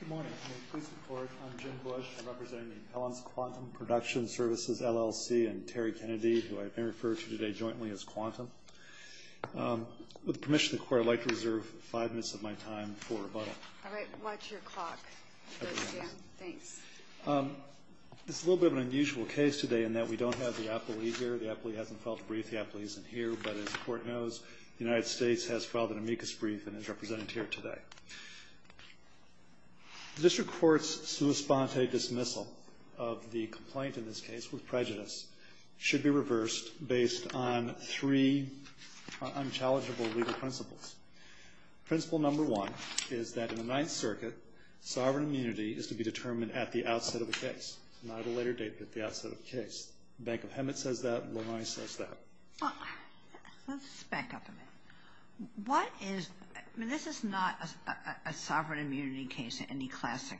Good morning. May it please the Court, I'm Jim Bush. I'm representing Helland's Quantum Production Services, LLC, and Terry Kennedy, who I may refer to today jointly as Quantum. With the permission of the Court, I'd like to reserve five minutes of my time for rebuttal. All right. Watch your clock. Thanks. It's a little bit of an unusual case today in that we don't have the appellee here. The appellee hasn't filed a brief. The appellee isn't here. But as the Court knows, the United States has filed an amicus brief and is represented here today. The District Court's sua sponte dismissal of the complaint in this case with prejudice should be reversed based on three unchallengeable legal principles. Principle number one is that in the Ninth Circuit, sovereign immunity is to be determined at the outset of the case, not at a later date, but at the outset of the case. The Bank of Hemet says that. Lonoi says that. Let's back up a minute. This is not a sovereign immunity case in any classic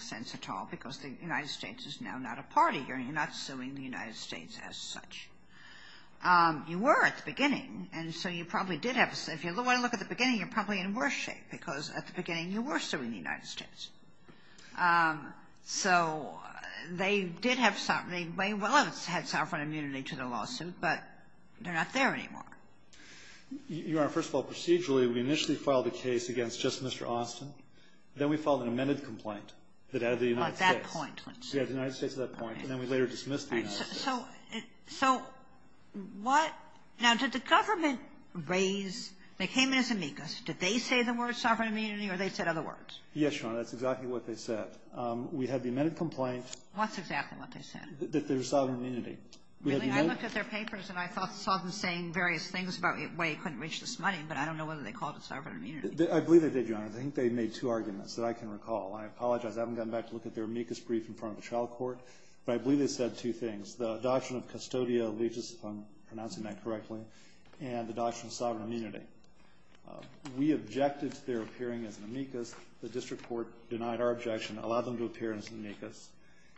sense at all, because the United States is now not a party here, and you're not suing the United States as such. You were at the beginning, and so you probably did have – if you look at the beginning, you're probably in worse shape, because at the beginning, you were suing the United States. So they did have – they may well have had sovereign immunity to the lawsuit, but they're not there anymore. Your Honor, first of all, procedurally, we initially filed a case against just Mr. Austin. Then we filed an amended complaint that added the United States. At that point, let's say. We added the United States at that point, and then we later dismissed the United States. So what – now, did the government raise – they came in as amicus. Did they say the word sovereign immunity, or they said other words? Yes, Your Honor. That's exactly what they said. We had the amended complaint. What's exactly what they said? That there's sovereign immunity. Really? I looked at their papers, and I saw them saying various things about why you couldn't reach this money, but I don't know whether they called it sovereign immunity. I believe they did, Your Honor. I think they made two arguments that I can recall. I apologize. I haven't gotten back to look at their amicus brief in front of the trial court, but I believe they said two things. The doctrine of custodial allegiance, if I'm pronouncing that correctly, and the doctrine of sovereign immunity. We objected to their appearing as an amicus. The district court denied our objection, allowed them to appear as an amicus,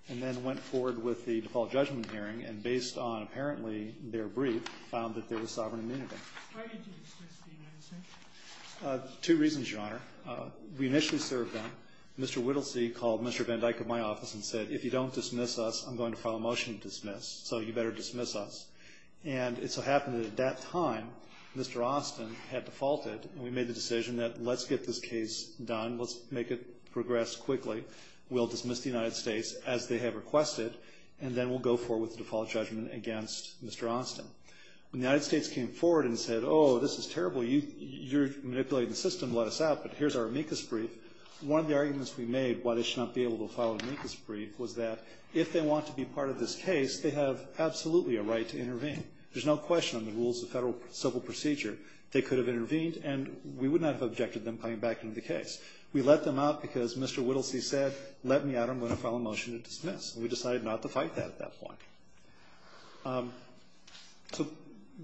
and then went forward with the default judgment hearing, and based on, apparently, their brief, found that there was sovereign immunity. Why did you dismiss the United States? Two reasons, Your Honor. We initially served them. Mr. Whittlesey called Mr. Van Dyke at my office and said, if you don't dismiss us, I'm going to file a motion to dismiss, so you better dismiss us. And it so happened that at that time, Mr. Austin had defaulted, and we made the decision that let's get this case done. Let's make it progress quickly. We'll dismiss the United States as they have requested, and then we'll go forward with the default judgment against Mr. Austin. When the United States came forward and said, oh, this is terrible. You're manipulating the system. Let us out, but here's our amicus brief. One of the arguments we made why they should not be able to file an amicus brief was that if they want to be part of this case, they have absolutely a right to intervene. There's no question on the rules of federal civil procedure they could have intervened, and we would not have objected to them coming back into the case. We let them out because Mr. Whittlesey said, let me out, I'm going to file a motion to dismiss, and we decided not to fight that at that point. So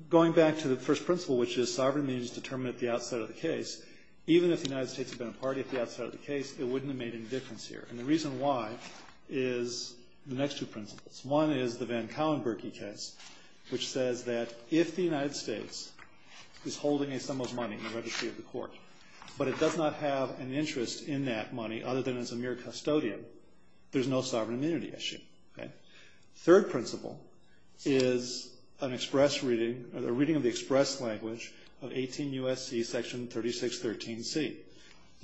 going back to the first principle, which is sovereign immunity is determined at the outset of the case, even if the United States had been a party at the outset of the case, it wouldn't have made any difference here. And the reason why is the next two principles. One is the Van Cowen-Burke case, which says that if the United States is holding a sum of money in the registry of the court, but it does not have an interest in that money other than as a mere custodian, there's no sovereign immunity issue. Third principle is an express reading or the reading of the express language of 18 U.S.C. section 3613C. The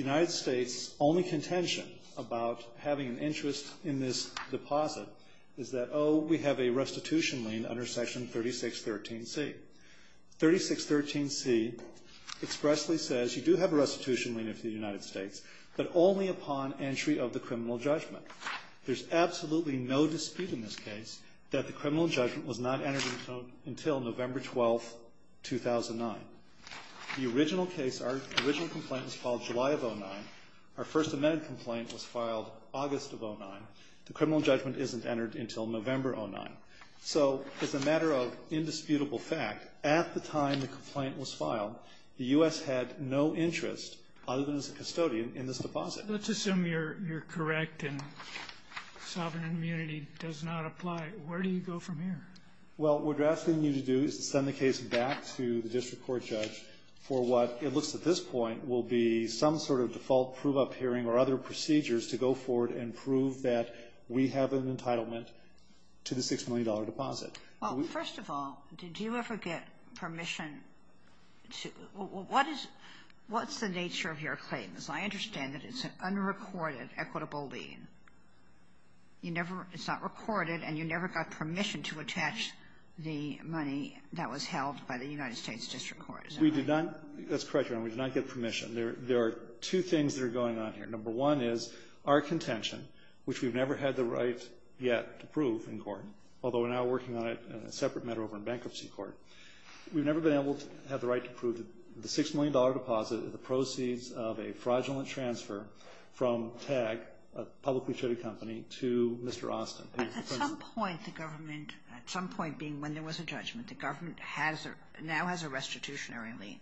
United States' only contention about having an interest in this deposit is that, oh, we have a restitution lien under section 3613C. 3613C expressly says you do have a restitution lien with the United States, but only upon entry of the criminal judgment. There's absolutely no dispute in this case that the criminal judgment was not entered into until November 12, 2009. The original case, our original complaint was filed July of 2009. Our first amended complaint was filed August of 2009. The criminal judgment isn't entered until November 2009. So as a matter of indisputable fact, at the time the complaint was filed, the U.S. had no interest other than as a custodian in this deposit. Sotomayor Let's assume you're correct and sovereign immunity does not apply. Where do you go from here? Well, what we're asking you to do is to send the case back to the district court judge for what it looks at this point will be some sort of default prove-up hearing or other procedures to go forward and prove that we have an entitlement to the $6 million deposit. Well, first of all, did you ever get permission to – what is – what's the nature of your claim? Because I understand that it's an unrecorded equitable lien. You never – it's not recorded and you never got permission to attach the money that was held by the United States district court, is that right? We did not – that's correct, Your Honor. We did not get permission. There are two things that are going on here. Number one is our contention, which we've never had the right yet to prove in court, although we're now working on it in a separate matter over in bankruptcy court. We've never been able to have the right to prove the $6 million deposit, the proceeds of a fraudulent transfer from TAG, a publicly traded company, to Mr. Austin. At some point the government – at some point being when there was a judgment, the government has – now has a restitutionary lien.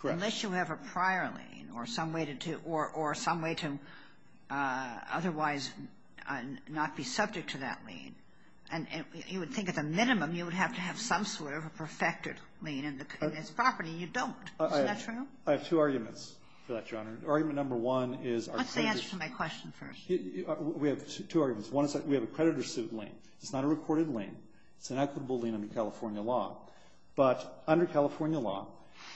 Correct. Unless you have a prior lien or some way to – or some way to otherwise not be subject to that lien, you would think at the minimum you would have to have some sort of a perfected lien in this property. You don't. I have two arguments for that, Your Honor. Argument number one is our – What's the answer to my question first? We have two arguments. One is that we have a creditor suit lien. It's not a recorded lien. It's an equitable lien under California law. But under California law,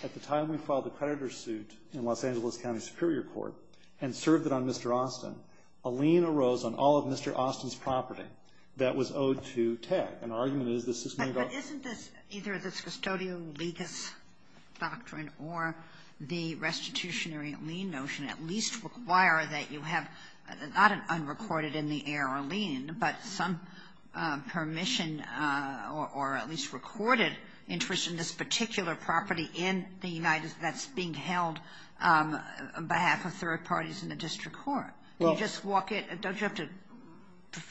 at the time we filed the creditor suit in Los Angeles County Superior Court and served it on Mr. Austin, a lien arose on all of Mr. Austin's property that was owed to TAG. And our argument is this $6 million – require that you have not an unrecorded in the air lien, but some permission or at least recorded interest in this particular property in the United – that's being held on behalf of third parties in the district court. You just walk it – don't you have to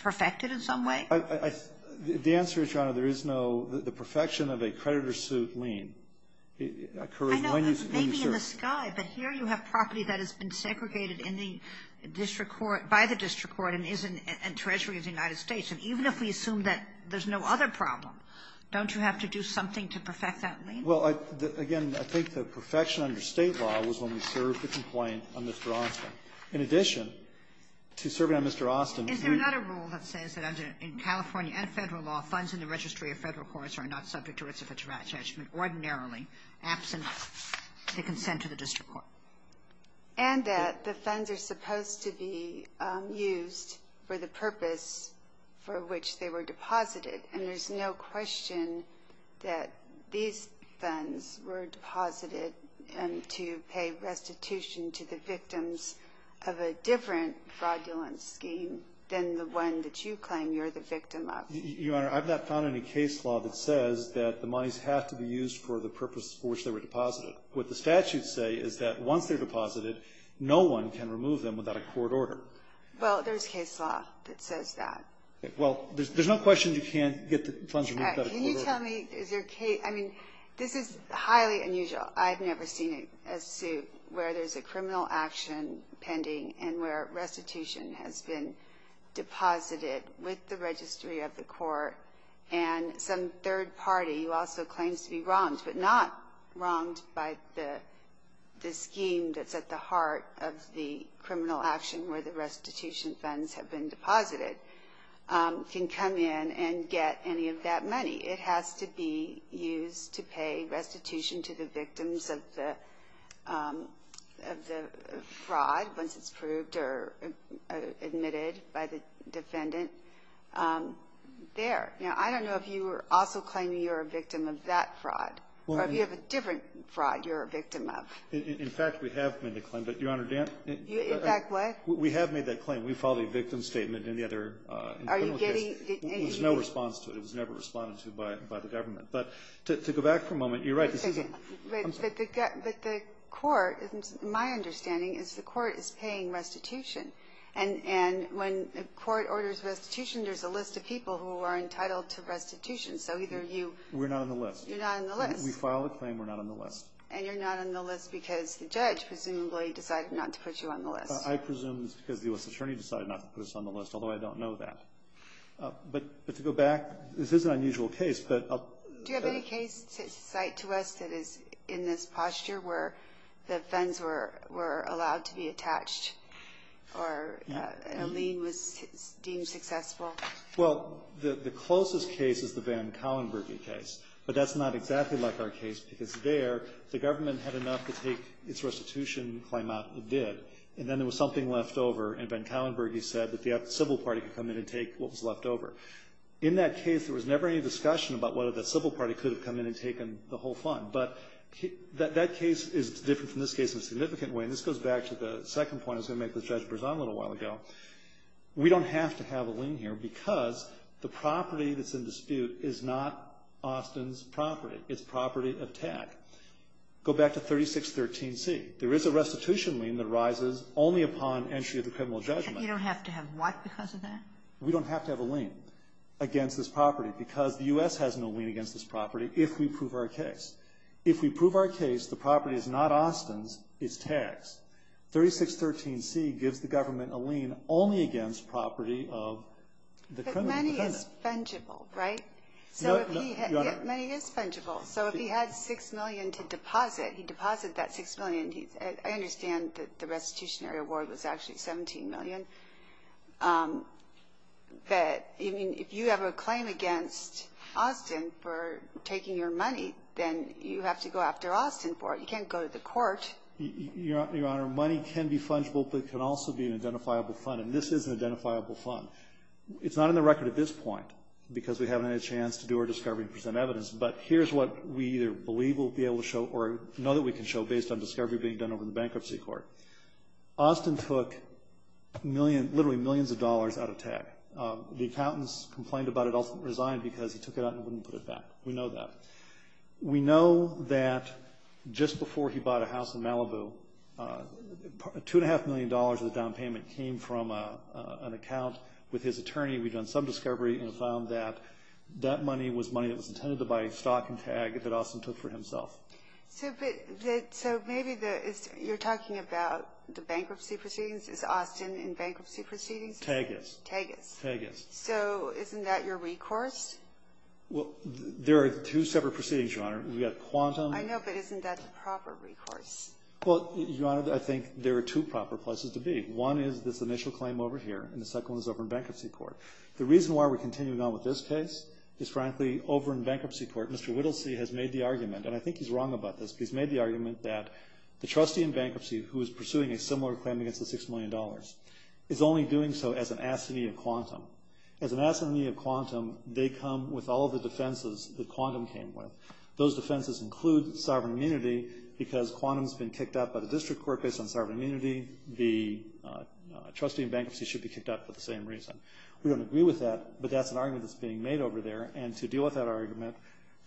perfect it in some way? The answer is, Your Honor, there is no – the perfection of a creditor suit lien occurs when you serve. It may be in the sky, but here you have property that has been segregated in the district court – by the district court and is in Treasury of the United States. And even if we assume that there's no other problem, don't you have to do something to perfect that lien? Well, again, I think the perfection under State law was when we served the complaint on Mr. Austin. In addition to serving on Mr. Austin – Is there not a rule that says that in California and Federal law, funds in the registry of Federal courts are not subject to rights of attachment ordinarily, absent the consent of the district court? And that the funds are supposed to be used for the purpose for which they were deposited. And there's no question that these funds were deposited to pay restitution to the victims of a different fraudulent scheme than the one that you claim you're the victim of. Your Honor, I've not found any case law that says that the monies have to be used for the purpose for which they were deposited. What the statutes say is that once they're deposited, no one can remove them without a court order. Well, there's case law that says that. Well, there's no question you can't get the funds removed without a court order. Can you tell me – I mean, this is highly unusual. I've never seen a suit where there's a criminal action pending and where restitution has been deposited with the registry of the court and some third party who also claims to be wronged, but not wronged by the scheme that's at the heart of the criminal action where the restitution funds have been deposited, can come in and get any of that money. It has to be used to pay restitution to the victims of the fraud once it's proved or admitted by the defendant. There. Now, I don't know if you were also claiming you're a victim of that fraud or if you have a different fraud you're a victim of. In fact, we have made a claim. But, Your Honor, Dan? In fact, what? We have made that claim. We filed a victim statement in the other criminal case. Are you getting – There was no response to it. It was never responded to by the government. But to go back for a moment, you're right. But the court – my understanding is the court is paying restitution. And when the court orders restitution, there's a list of people who are entitled to restitution. So either you – We're not on the list. You're not on the list. We filed a claim. We're not on the list. And you're not on the list because the judge presumably decided not to put you on the list. I presume it's because the U.S. Attorney decided not to put us on the list, although I don't know that. But to go back, this is an unusual case. But I'll – Do you have any case to cite to us that is in this posture where the fines were allowed to be attached or a lien was deemed successful? Well, the closest case is the Van Collenbergy case. But that's not exactly like our case because there the government had enough to take its restitution claim out and did. And then there was something left over, and Van Collenbergy said that the civil party could come in and take what was left over. In that case, there was never any discussion about whether the civil party could have come in and taken the whole fund. But that case is different from this case in a significant way. And this goes back to the second point I was going to make with Judge Berzon a little while ago. We don't have to have a lien here because the property that's in dispute is not Austin's property. It's property of TAC. Go back to 3613C. There is a restitution lien that arises only upon entry of the criminal judgment. You don't have to have what because of that? We don't have to have a lien against this property because the U.S. has no lien against this property if we prove our case. If we prove our case, the property is not Austin's. It's TAC's. 3613C gives the government a lien only against property of the criminal defendant. But money is fungible, right? So if he had – Your Honor. Money is fungible. So if he had $6 million to deposit, he'd deposit that $6 million. I understand that the restitutionary award was actually $17 million. But, I mean, if you have a claim against Austin for taking your money, then you have to go after Austin for it. You can't go to the court. Your Honor, money can be fungible, but it can also be an identifiable fund. And this is an identifiable fund. It's not in the record at this point because we haven't had a chance to do our discovery and present evidence. But here's what we either believe we'll be able to show or know that we can show based on discovery being done over in the bankruptcy court. Austin took literally millions of dollars out of TAC. The accountants complained about it, also resigned because he took it out and wouldn't put it back. We know that. We know that just before he bought a house in Malibu, $2.5 million of the down payment came from an account with his attorney. We've done some discovery and found that that money was money that was intended to buy stock in TAC that Austin took for himself. So maybe you're talking about the bankruptcy proceedings. Is Austin in bankruptcy proceedings? TAG is. TAG is. TAG is. So isn't that your recourse? Well, there are two separate proceedings, Your Honor. We've got quantum. I know, but isn't that the proper recourse? Well, Your Honor, I think there are two proper places to be. One is this initial claim over here, and the second one is over in bankruptcy court. The reason why we're continuing on with this case is, frankly, over in bankruptcy court, Mr. Whittlesey has made the argument, and I think he's wrong about this, but he's made the argument that the trustee in bankruptcy who is pursuing a similar claim against the $6 million is only doing so as an assignee of quantum. As an assignee of quantum, they come with all the defenses that quantum came with. Those defenses include sovereign immunity because quantum has been kicked out by the district court based on trustee in bankruptcy should be kicked out for the same reason. We don't agree with that, but that's an argument that's being made over there, and to deal with that argument,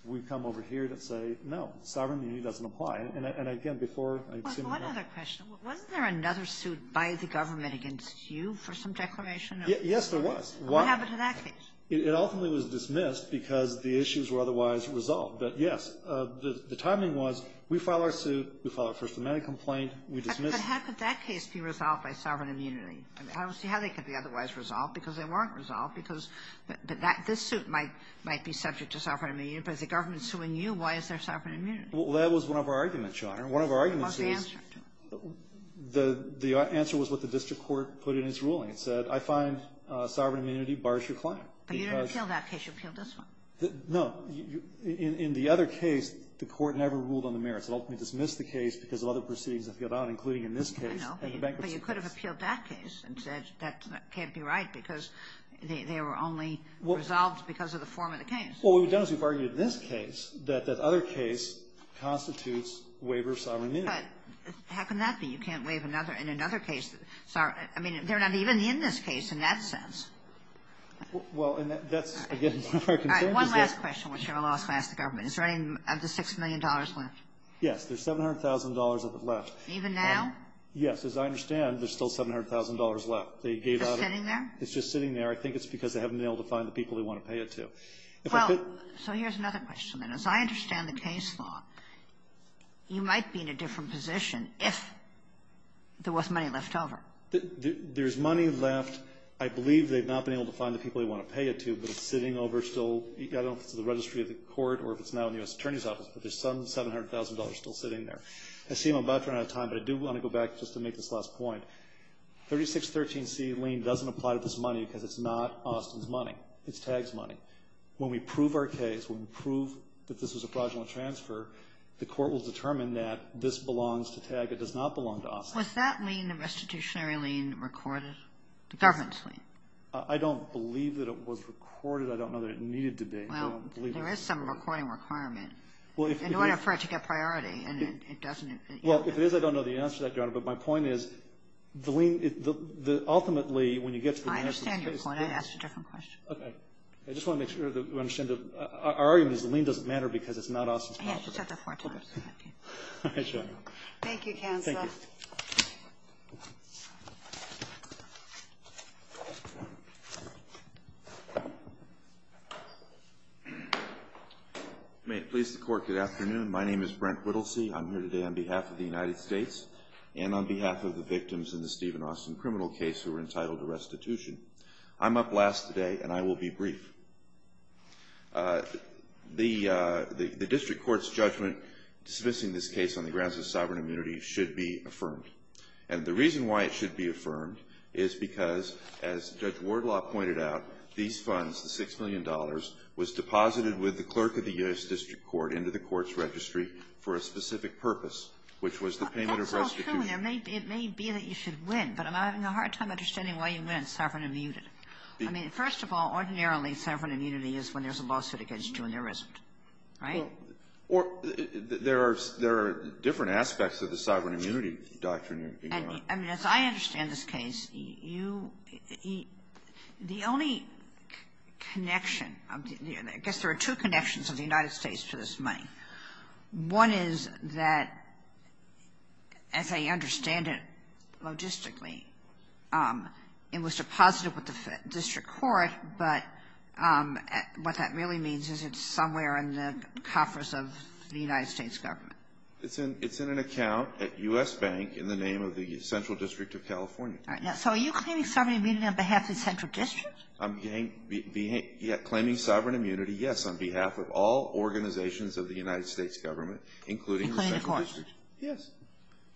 we've come over here to say, no, sovereign immunity doesn't apply. And, again, before I seem to know. One other question. Wasn't there another suit by the government against you for some declaration? Yes, there was. What happened to that case? It ultimately was dismissed because the issues were otherwise resolved. But, yes, the timing was we file our suit, we file our First Amendment complaint, we dismiss. But how could that case be resolved by sovereign immunity? I don't see how they could be otherwise resolved because they weren't resolved. But this suit might be subject to sovereign immunity, but if the government is suing you, why is there sovereign immunity? Well, that was one of our arguments, Your Honor. One of our arguments is the answer was what the district court put in its ruling. It said, I find sovereign immunity bars your claim. But you didn't appeal that case. You appealed this one. No. In the other case, the court never ruled on the merits. It ultimately dismissed the case because of other proceedings that appealed out, including in this case and the bankruptcy case. I know. But you could have appealed that case and said that can't be right because they were only resolved because of the form of the case. Well, what we've done is we've argued in this case that that other case constitutes waiver of sovereign immunity. But how can that be? You can't waive another in another case. I mean, they're not even in this case in that sense. Well, and that's, again, one of our concerns. All right. Is there any of the $6 million left? Yes. There's $700,000 of it left. Even now? Yes. As I understand, there's still $700,000 left. They gave out it. It's just sitting there? It's just sitting there. I think it's because they haven't been able to find the people they want to pay it to. Well, so here's another question, then. As I understand the case law, you might be in a different position if there was money left over. There's money left. I believe they've not been able to find the people they want to pay it to, but it's sitting over still. I don't know if it's in the registry of the court or if it's now in the U.S. Attorney's Office, but there's some $700,000 still sitting there. I see I'm about to run out of time, but I do want to go back just to make this last point. 3613C lien doesn't apply to this money because it's not Austin's money. It's TAG's money. When we prove our case, when we prove that this was a fraudulent transfer, the court will determine that this belongs to TAG. It does not belong to Austin. Was that lien, the restitutionary lien, recorded, the government's lien? I don't believe that it was recorded. I don't know that it needed to be. I don't believe it was recorded. Well, there is some recording requirement. Well, if it is. In order for it to get priority, and it doesn't. Well, if it is, I don't know the answer to that, Your Honor. But my point is the lien, ultimately, when you get to the United States case. I understand your point. I asked a different question. Okay. I just want to make sure that we understand. Our argument is the lien doesn't matter because it's not Austin's property. Yes, you said that four times. Okay. All right, Your Honor. Thank you, counsel. Thank you. Thank you. May it please the court, good afternoon. My name is Brent Whittlesey. I'm here today on behalf of the United States and on behalf of the victims in the Steven Austin criminal case who were entitled to restitution. I'm up last today and I will be brief. The district court's judgment dismissing this case on the grounds of sovereign immunity should be affirmed. And the reason why it should be affirmed is because, as Judge Wardlaw pointed out, these funds, the $6 million, was deposited with the clerk of the U.S. district court into the court's registry for a specific purpose, which was the payment of restitution. That's not true. It may be that you should win, but I'm having a hard time understanding why you meant sovereign immunity. I mean, first of all, ordinarily, sovereign immunity is when there's a lawsuit against you and there isn't. Right? Or there are different aspects of the sovereign immunity doctrine. I mean, as I understand this case, you – the only connection – I guess there are two connections of the United States to this money. One is that, as I understand it logistically, it was deposited with the district court, but what that really means is it's somewhere in the coffers of the United States government. It's in an account at U.S. Bank in the name of the Central District of California. So are you claiming sovereign immunity on behalf of the Central District? I'm claiming sovereign immunity, yes, on behalf of all organizations of the United States government, including the Central District. Including the court. Yes.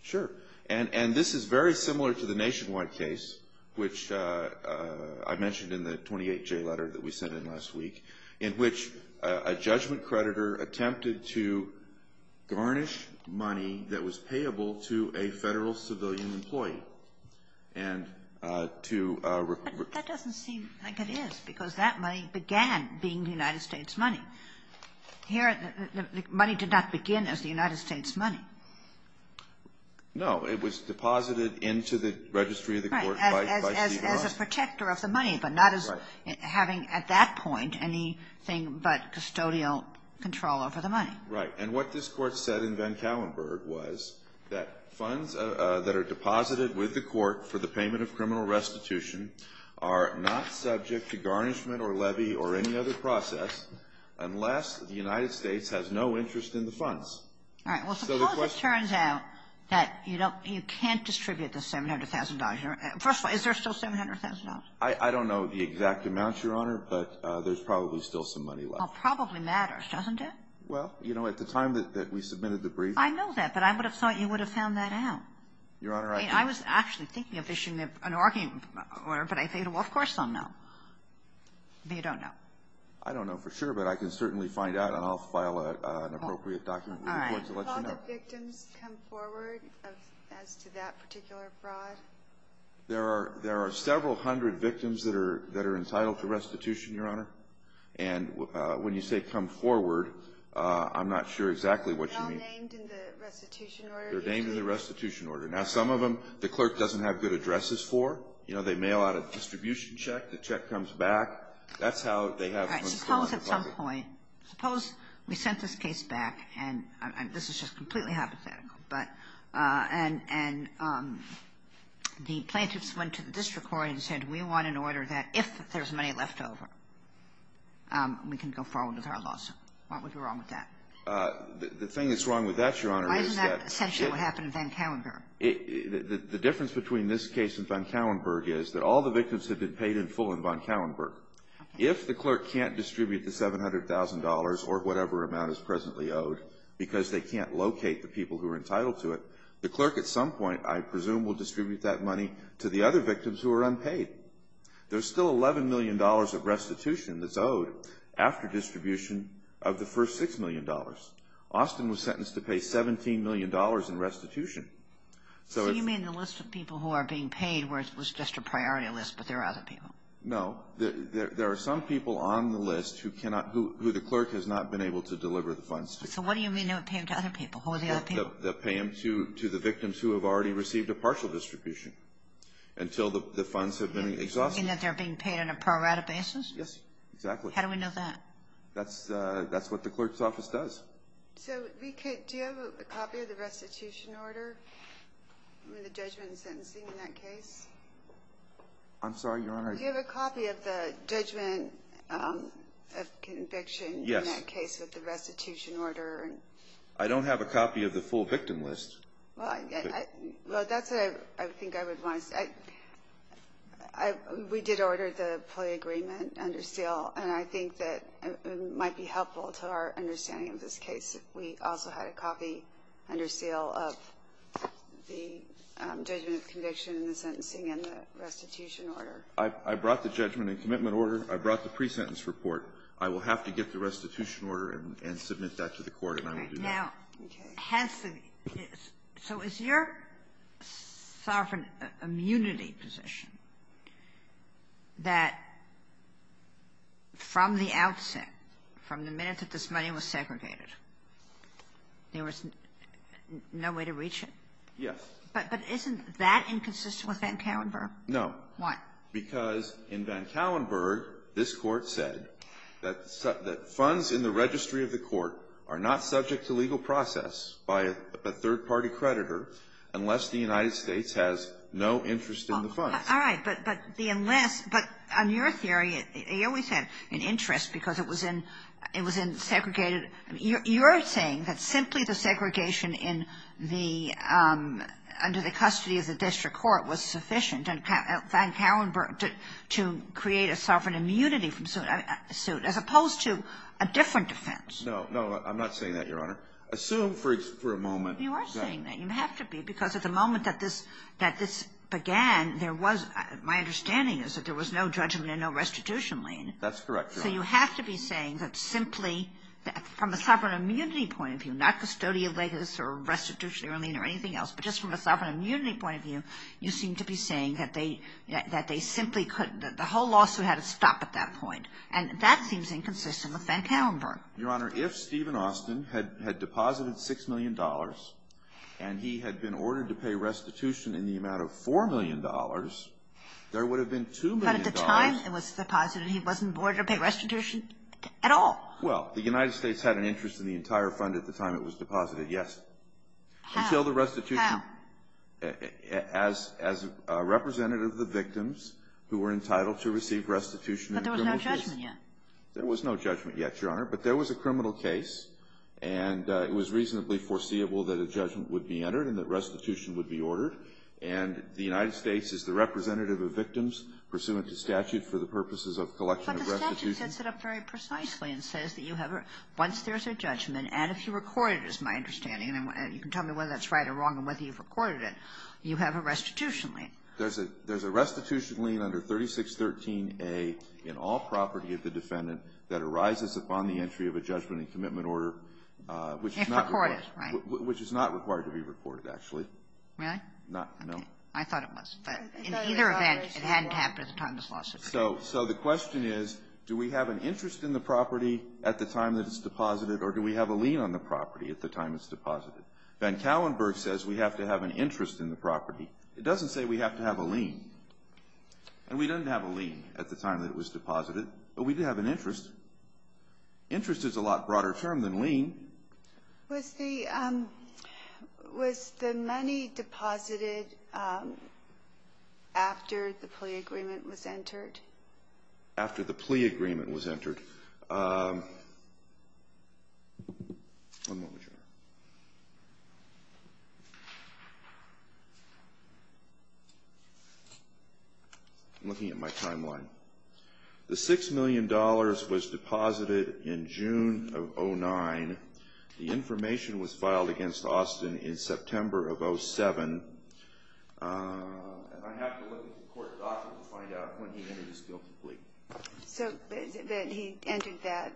Sure. And this is very similar to the nationwide case, which I mentioned in the 28J letter that we sent in last week, in which a judgment creditor attempted to garnish money that was payable to a Federal civilian employee. But that doesn't seem like it is, because that money began being the United States money. Here, the money did not begin as the United States money. No. It was deposited into the registry of the court. Right. As a protector of the money, but not as having at that point anything but custodial control over the money. Right. And what this court said in Van Kalenburg was that funds that are deposited with the court for the payment of criminal restitution are not subject to garnishment funds. All right. Well, suppose it turns out that you don't you can't distribute the $700,000. First of all, is there still $700,000? I don't know the exact amounts, Your Honor, but there's probably still some money left. Well, probably matters, doesn't it? Well, you know, at the time that we submitted the brief. I know that, but I would have thought you would have found that out. Your Honor, I think. I was actually thinking of issuing an argument, but I think, well, of course I'll know. But you don't know. I don't know for sure, but I can certainly find out, and I'll file an appropriate document with the court to let you know. All right. All the victims come forward as to that particular fraud? There are several hundred victims that are entitled to restitution, Your Honor. And when you say come forward, I'm not sure exactly what you mean. Are they all named in the restitution order? They're named in the restitution order. Now, some of them, the clerk doesn't have good addresses for. You know, they mail out a distribution check. The check comes back. That's how they have funds to go out to the public. All right. Suppose at some point, suppose we sent this case back, and this is just completely hypothetical, but, and the plaintiffs went to the district court and said, we want an order that if there's money left over, we can go forward with our lawsuit. What would be wrong with that? The thing that's wrong with that, Your Honor, is that if the difference between this case and von Kauenberg is that all the victims have been paid in full in von Kauenberg. Okay. If the clerk can't distribute the $700,000 or whatever amount is presently owed because they can't locate the people who are entitled to it, the clerk at some point, I presume, will distribute that money to the other victims who are unpaid. There's still $11 million of restitution that's owed after distribution of the first $6 million. Austin was sentenced to pay $17 million in restitution. So you mean the list of people who are being paid was just a priority list, but there are other people? No. There are some people on the list who cannot, who the clerk has not been able to deliver the funds to. So what do you mean they're paying to other people? Who are the other people? They'll pay them to the victims who have already received a partial distribution until the funds have been exhausted. You mean that they're being paid on a prorate basis? Yes, exactly. How do we know that? That's what the clerk's office does. So do you have a copy of the restitution order? I mean the judgment and sentencing in that case. I'm sorry, Your Honor. Do you have a copy of the judgment of conviction in that case with the restitution order? I don't have a copy of the full victim list. Well, that's what I think I would want to say. We did order the plea agreement under seal, and I think that it might be helpful to our understanding of this case if we also had a copy under seal of the judgment of conviction and the sentencing and the restitution order. I brought the judgment and commitment order. I brought the pre-sentence report. I will have to get the restitution order and submit that to the court, and I will do that. Okay. Now, has the so is your sovereign immunity position that from the outset, from the minute that this money was segregated, there was no way to reach it? Yes. But isn't that inconsistent with Van Karrenburg? No. Why? Because in Van Karrenburg, this Court said that funds in the registry of the court are not subject to legal process by a third-party creditor unless the United States has no interest in the funds. All right. But the unless, but on your theory, it always had an interest because it was in segregated you're saying that simply the segregation in the under the custody of the district court was sufficient and Van Karrenburg to create a sovereign immunity from suit as opposed to a different defense. No. No. I'm not saying that, Your Honor. Assume for a moment. You are saying that. You have to be because at the moment that this began, there was my understanding is that there was no judgment and no restitution lien. That's correct, Your Honor. So you have to be saying that simply from a sovereign immunity point of view, not custodial legis or restitution lien or anything else, but just from a sovereign immunity point of view, you seem to be saying that they simply couldn't. The whole lawsuit had to stop at that point. And that seems inconsistent with Van Karrenburg. Your Honor, if Stephen Austin had deposited $6 million and he had been ordered to pay restitution in the amount of $4 million, there would have been $2 million. But at the time it was deposited, he wasn't ordered to pay restitution at all. Well, the United States had an interest in the entire fund at the time it was deposited, How? Until the restitution. How? As a representative of the victims who were entitled to receive restitution in the criminal case. But there was no judgment yet. There was no judgment yet, Your Honor. But there was a criminal case, and it was reasonably foreseeable that a judgment would be entered and that restitution would be ordered. And the United States is the representative of victims pursuant to statute for the purposes of collection of restitution. But the statute sets it up very precisely and says that you have a – once there's a judgment, and if you record it, is my understanding, and you can tell me whether that's right or wrong and whether you've recorded it, you have a restitution lien. There's a – there's a restitution lien under 3613A in all property of the defendant that arises upon the entry of a judgment and commitment order, which is not – If recorded, right. Which is not required to be recorded, actually. Really? Not – no. Okay. I thought it was. But in either event, it hadn't happened at the time this lawsuit came. So the question is, do we have an interest in the property at the time that it's deposited, or do we have a lien on the property at the time it's deposited? Van Kallenburg says we have to have an interest in the property. It doesn't say we have to have a lien. And we didn't have a lien at the time that it was deposited, but we did have an interest. Interest is a lot broader term than lien. Was the – was the money deposited after the plea agreement was entered? After the plea agreement was entered. One moment here. I'm looking at my timeline. The $6 million was deposited in June of 2009. The information was filed against Austin in September of 2007. And I have to look at the court document to find out when he entered his guilty plea. So then he entered that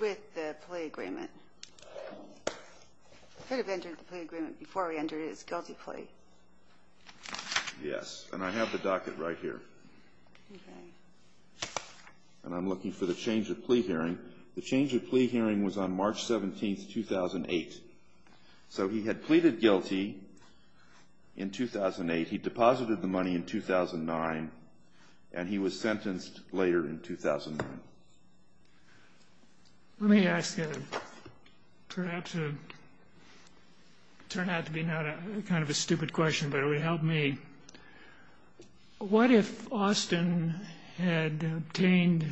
with the plea agreement. He could have entered the plea agreement before he entered his guilty plea. Yes. And I have the docket right here. Okay. And I'm looking for the change of plea hearing. The change of plea hearing was on March 17, 2008. So he had pleaded guilty in 2008. He deposited the money in 2009. And he was sentenced later in 2009. Let me ask you perhaps a – it turned out to be not a kind of a stupid question, but it would help me. What if Austin had obtained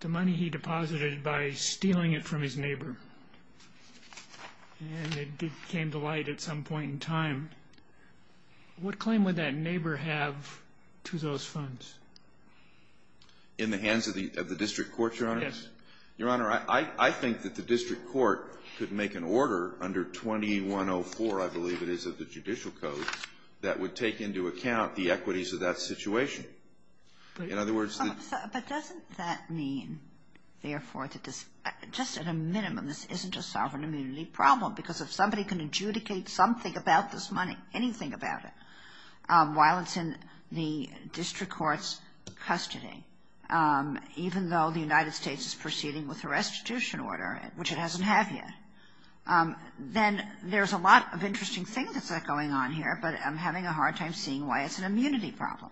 the money he deposited by stealing it from his neighbor? And it came to light at some point in time. What claim would that neighbor have to those funds? In the hands of the district court, Your Honor? Yes. Your Honor, I think that the district court could make an order under 2104, I believe it is, of the judicial code that would take into account the equities of that situation. In other words, the – But doesn't that mean, therefore, that this – just at a minimum, this isn't a sovereign immunity problem, because if somebody can adjudicate something about this money, anything about it, while it's in the district court's custody, even though the United States is proceeding with a restitution order, which it doesn't have yet, then there's a lot of interesting things that's going on here, but I'm having a hard time seeing why it's an immunity problem.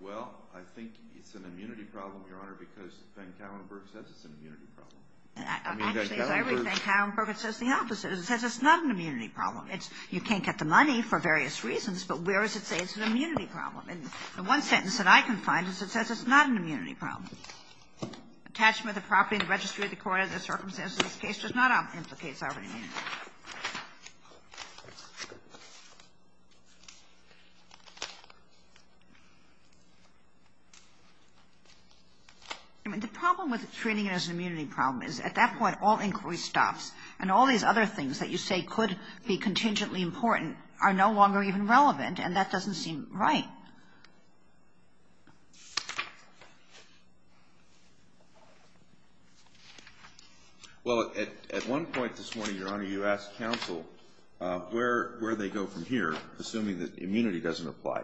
Well, I think it's an immunity problem, Your Honor, because Ben Kallenberg says it's an immunity problem. Actually, as I rethink Kallenberg, it says the opposite. It says it's not an immunity problem. It's you can't get the money for various reasons, but where does it say it's an immunity problem? And the one sentence that I can find is it says it's not an immunity problem. Attachment of the property in the registry of the court under the circumstances of this case does not implicate sovereign immunity. I mean, the problem with treating it as an immunity problem is at that point all inquiry stops, and all these other things that you say could be contingently important are no longer even relevant, and that doesn't seem right. Well, at one point this morning, Your Honor, you said it was an immunity problem. You asked counsel where they go from here, assuming that immunity doesn't apply,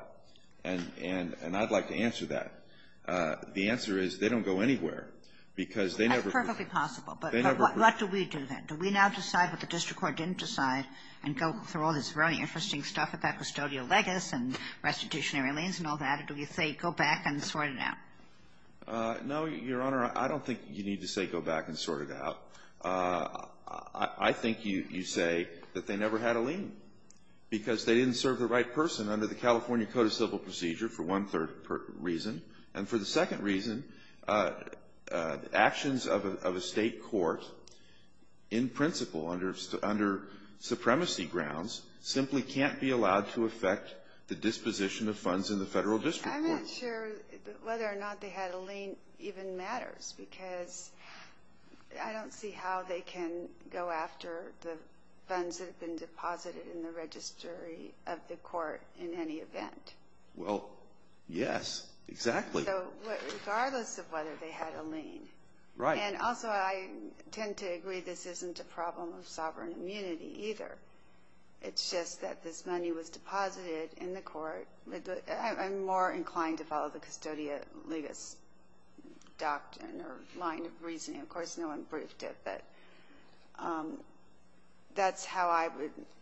and I'd like to answer that. The answer is they don't go anywhere because they never go. That's perfectly possible, but what do we do then? Do we now decide what the district court didn't decide and go through all this very interesting stuff about custodial legis and restitutionary liens and all that, or do we say go back and sort it out? No, Your Honor, I don't think you need to say go back and sort it out. I think you say that they never had a lien because they didn't serve the right person under the California Code of Civil Procedure for one-third reason, and for the second reason, actions of a State court in principle under supremacy grounds simply can't be allowed to affect the disposition of funds in the Federal district court. I'm not sure whether or not they had a lien even matters because I don't see how they can go after the funds that have been deposited in the registry of the court in any event. Well, yes, exactly. Regardless of whether they had a lien. Right. And also I tend to agree this isn't a problem of sovereign immunity either. It's just that this money was deposited in the court. I'm more inclined to follow the custodial legis doctrine or line of reasoning. Of course, no one briefed it, but that's how I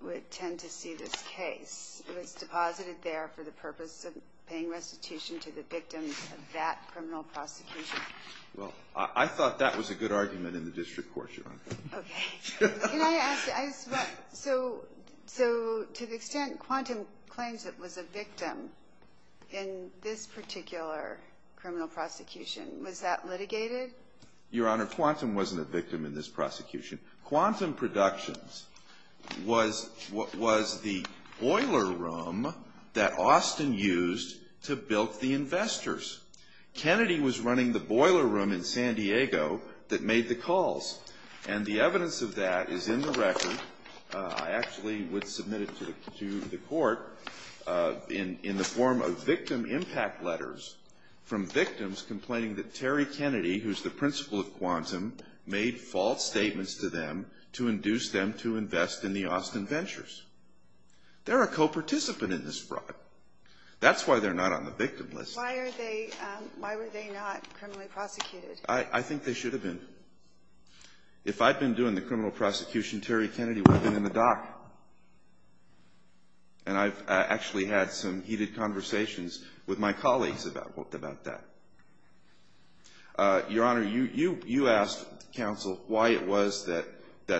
would tend to see this case. It was deposited there for the purpose of paying restitution to the victims of that criminal prosecution. Well, I thought that was a good argument in the district court, Your Honor. Okay. Can I ask, so to the extent Quantum claims it was a victim in this particular criminal prosecution, was that litigated? Your Honor, Quantum wasn't a victim in this prosecution. Quantum Productions was the boiler room that Austin used to bilk the investors. Kennedy was running the boiler room in San Diego that made the calls. And the evidence of that is in the record. I actually would submit it to the court in the form of victim impact letters from victims complaining that Terry Kennedy, who's the principal of Quantum, made false statements to them to induce them to invest in the Austin Ventures. They're a co-participant in this fraud. That's why they're not on the victim list. Why are they not criminally prosecuted? I think they should have been. If I'd been doing the criminal prosecution, Terry Kennedy would have been in the dock. And I've actually had some heated conversations with my colleagues about that. Your Honor, you asked counsel why it was that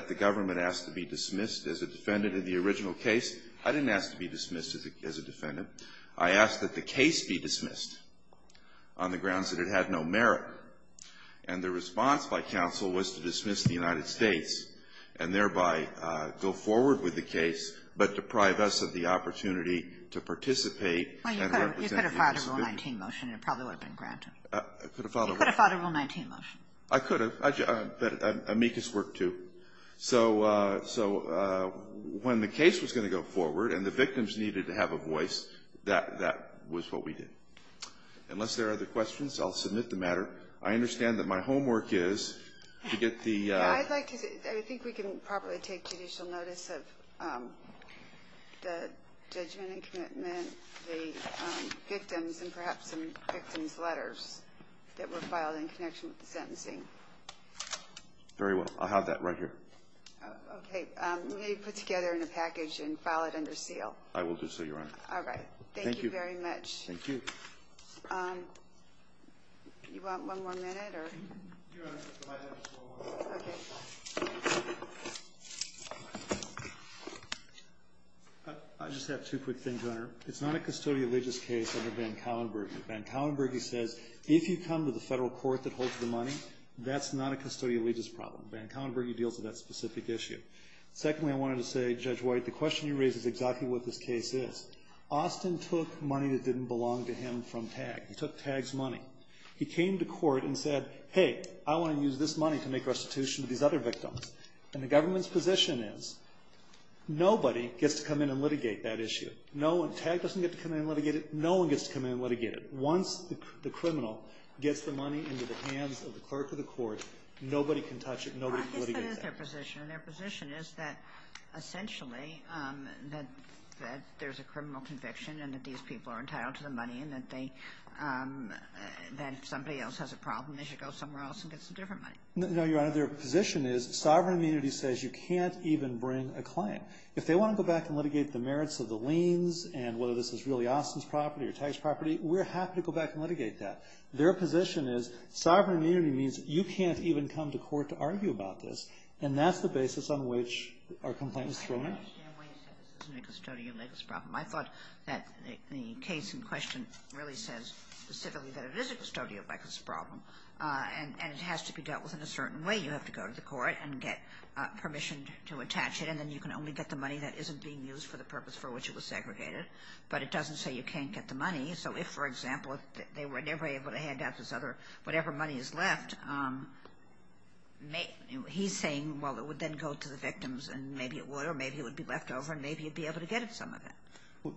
the government asked to be dismissed as a defendant in the original case. I didn't ask to be dismissed as a defendant. I asked that the case be dismissed on the grounds that it had no merit. And the response by counsel was to dismiss the United States and thereby go forward with the case, but deprive us of the opportunity to participate and represent the individual. Well, you could have filed a Rule 19 motion and it probably would have been granted. I could have filed a Rule 19 motion. I could have. But amicus worked, too. So when the case was going to go forward and the victims needed to have a voice, that was what we did. Unless there are other questions, I'll submit the matter. I understand that my homework is to get the – I think we can probably take judicial notice of the judgment and commitment, the victims, and perhaps some victims' letters that were filed in connection with the sentencing. Very well. I'll have that right here. Okay. Maybe put together in a package and file it under seal. I will do so, Your Honor. All right. Thank you very much. Thank you. You want one more minute? Your Honor, if I could have just one more minute. Okay. I just have two quick things, Your Honor. It's not a custodial legis case under Van Kallenberg. Van Kallenberg, he says, if you come to the federal court that holds the money, that's not a custodial legis problem. Van Kallenberg, he deals with that specific issue. Secondly, I wanted to say, Judge White, the question you raise is exactly what this case is. Austin took money that didn't belong to him from TAG. He took TAG's money. He came to court and said, hey, I want to use this money to make restitution to these other victims. And the government's position is nobody gets to come in and litigate that issue. TAG doesn't get to come in and litigate it. No one gets to come in and litigate it. Once the criminal gets the money into the hands of the clerk of the court, nobody can touch it. Nobody can litigate it. I guess that is their position, and their position is that essentially that there's a criminal conviction and that these people are entitled to the money and that somebody else has a problem, they should go somewhere else and get some different money. No, Your Honor. Their position is sovereign immunity says you can't even bring a claim. If they want to go back and litigate the merits of the liens and whether this is really Austin's property or TAG's property, we're happy to go back and litigate that. Their position is sovereign immunity means you can't even come to court to argue about this, and that's the basis on which our complaint was thrown in. I don't understand why you say this isn't a custodial legal problem. I thought that the case in question really says specifically that it is a custodial legal problem, and it has to be dealt with in a certain way. You have to go to the court and get permission to attach it, and then you can only get the money that isn't being used for the purpose for which it was segregated. But it doesn't say you can't get the money. So if, for example, they were never able to hand out this other whatever money is left, he's saying, well, it would then go to the victims, and maybe it would, or maybe it would be left over, and maybe you'd be able to get some of that.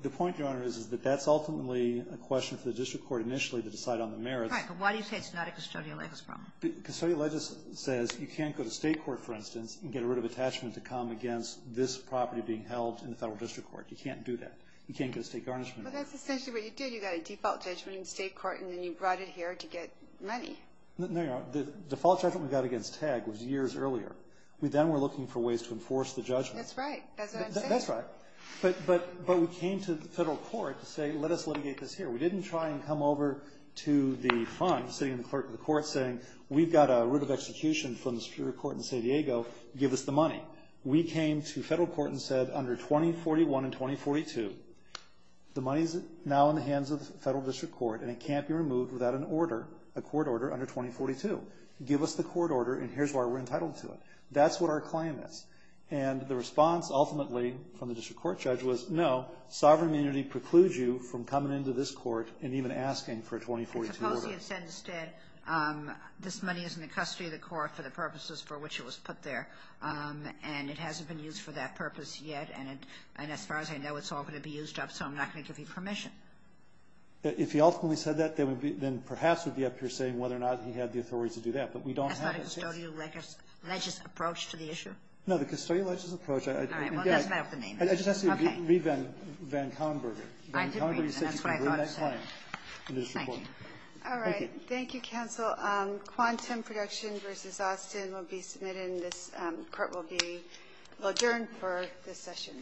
The point, Your Honor, is that that's ultimately a question for the district court initially to decide on the merits. Right. But why do you say it's not a custodial legal problem? Custodial legal says you can't go to state court, for instance, and get a writ of attachment to come against this property being held in the federal district court. You can't do that. You can't go to state garnishment. Well, that's essentially what you did. You got a default judgment in state court, and then you brought it here to get money. No, Your Honor. The default judgment we got against TAG was years earlier. We then were looking for ways to enforce the judgment. That's right. That's what I'm saying. That's right. But we came to the federal court to say, let us litigate this here. We didn't try and come over to the fund, sitting in the clerk of the court, saying, we've got a writ of execution from the Superior Court in San Diego. Give us the money. We came to federal court and said, under 2041 and 2042, the money is now in the hands of the federal district court, and it can't be removed without an order, a court order under 2042. Give us the court order, and here's why we're entitled to it. That's what our claim is. And the response, ultimately, from the district court judge was, no, sovereign immunity precludes you from coming into this court and even asking for a 2042 order. I suppose he had said instead, this money is in the custody of the court for the purposes for which it was put there, and it hasn't been used for that purpose yet, and as far as I know, it's all going to be used up, so I'm not going to give you permission. If he ultimately said that, then perhaps it would be up to your saying whether or not he had the authority to do that. But we don't have that case. Is that a custodial legis approach to the issue? No, the custodial legis approach. All right. Well, that's not the name. I just asked you to read Van Conberger. I did read that. That's what I thought it said. Van Conberger said you could read that claim. Thank you. All right. Thank you, counsel. Quantum Production v. Austin will be submitted, and this Court will be adjourned for this session.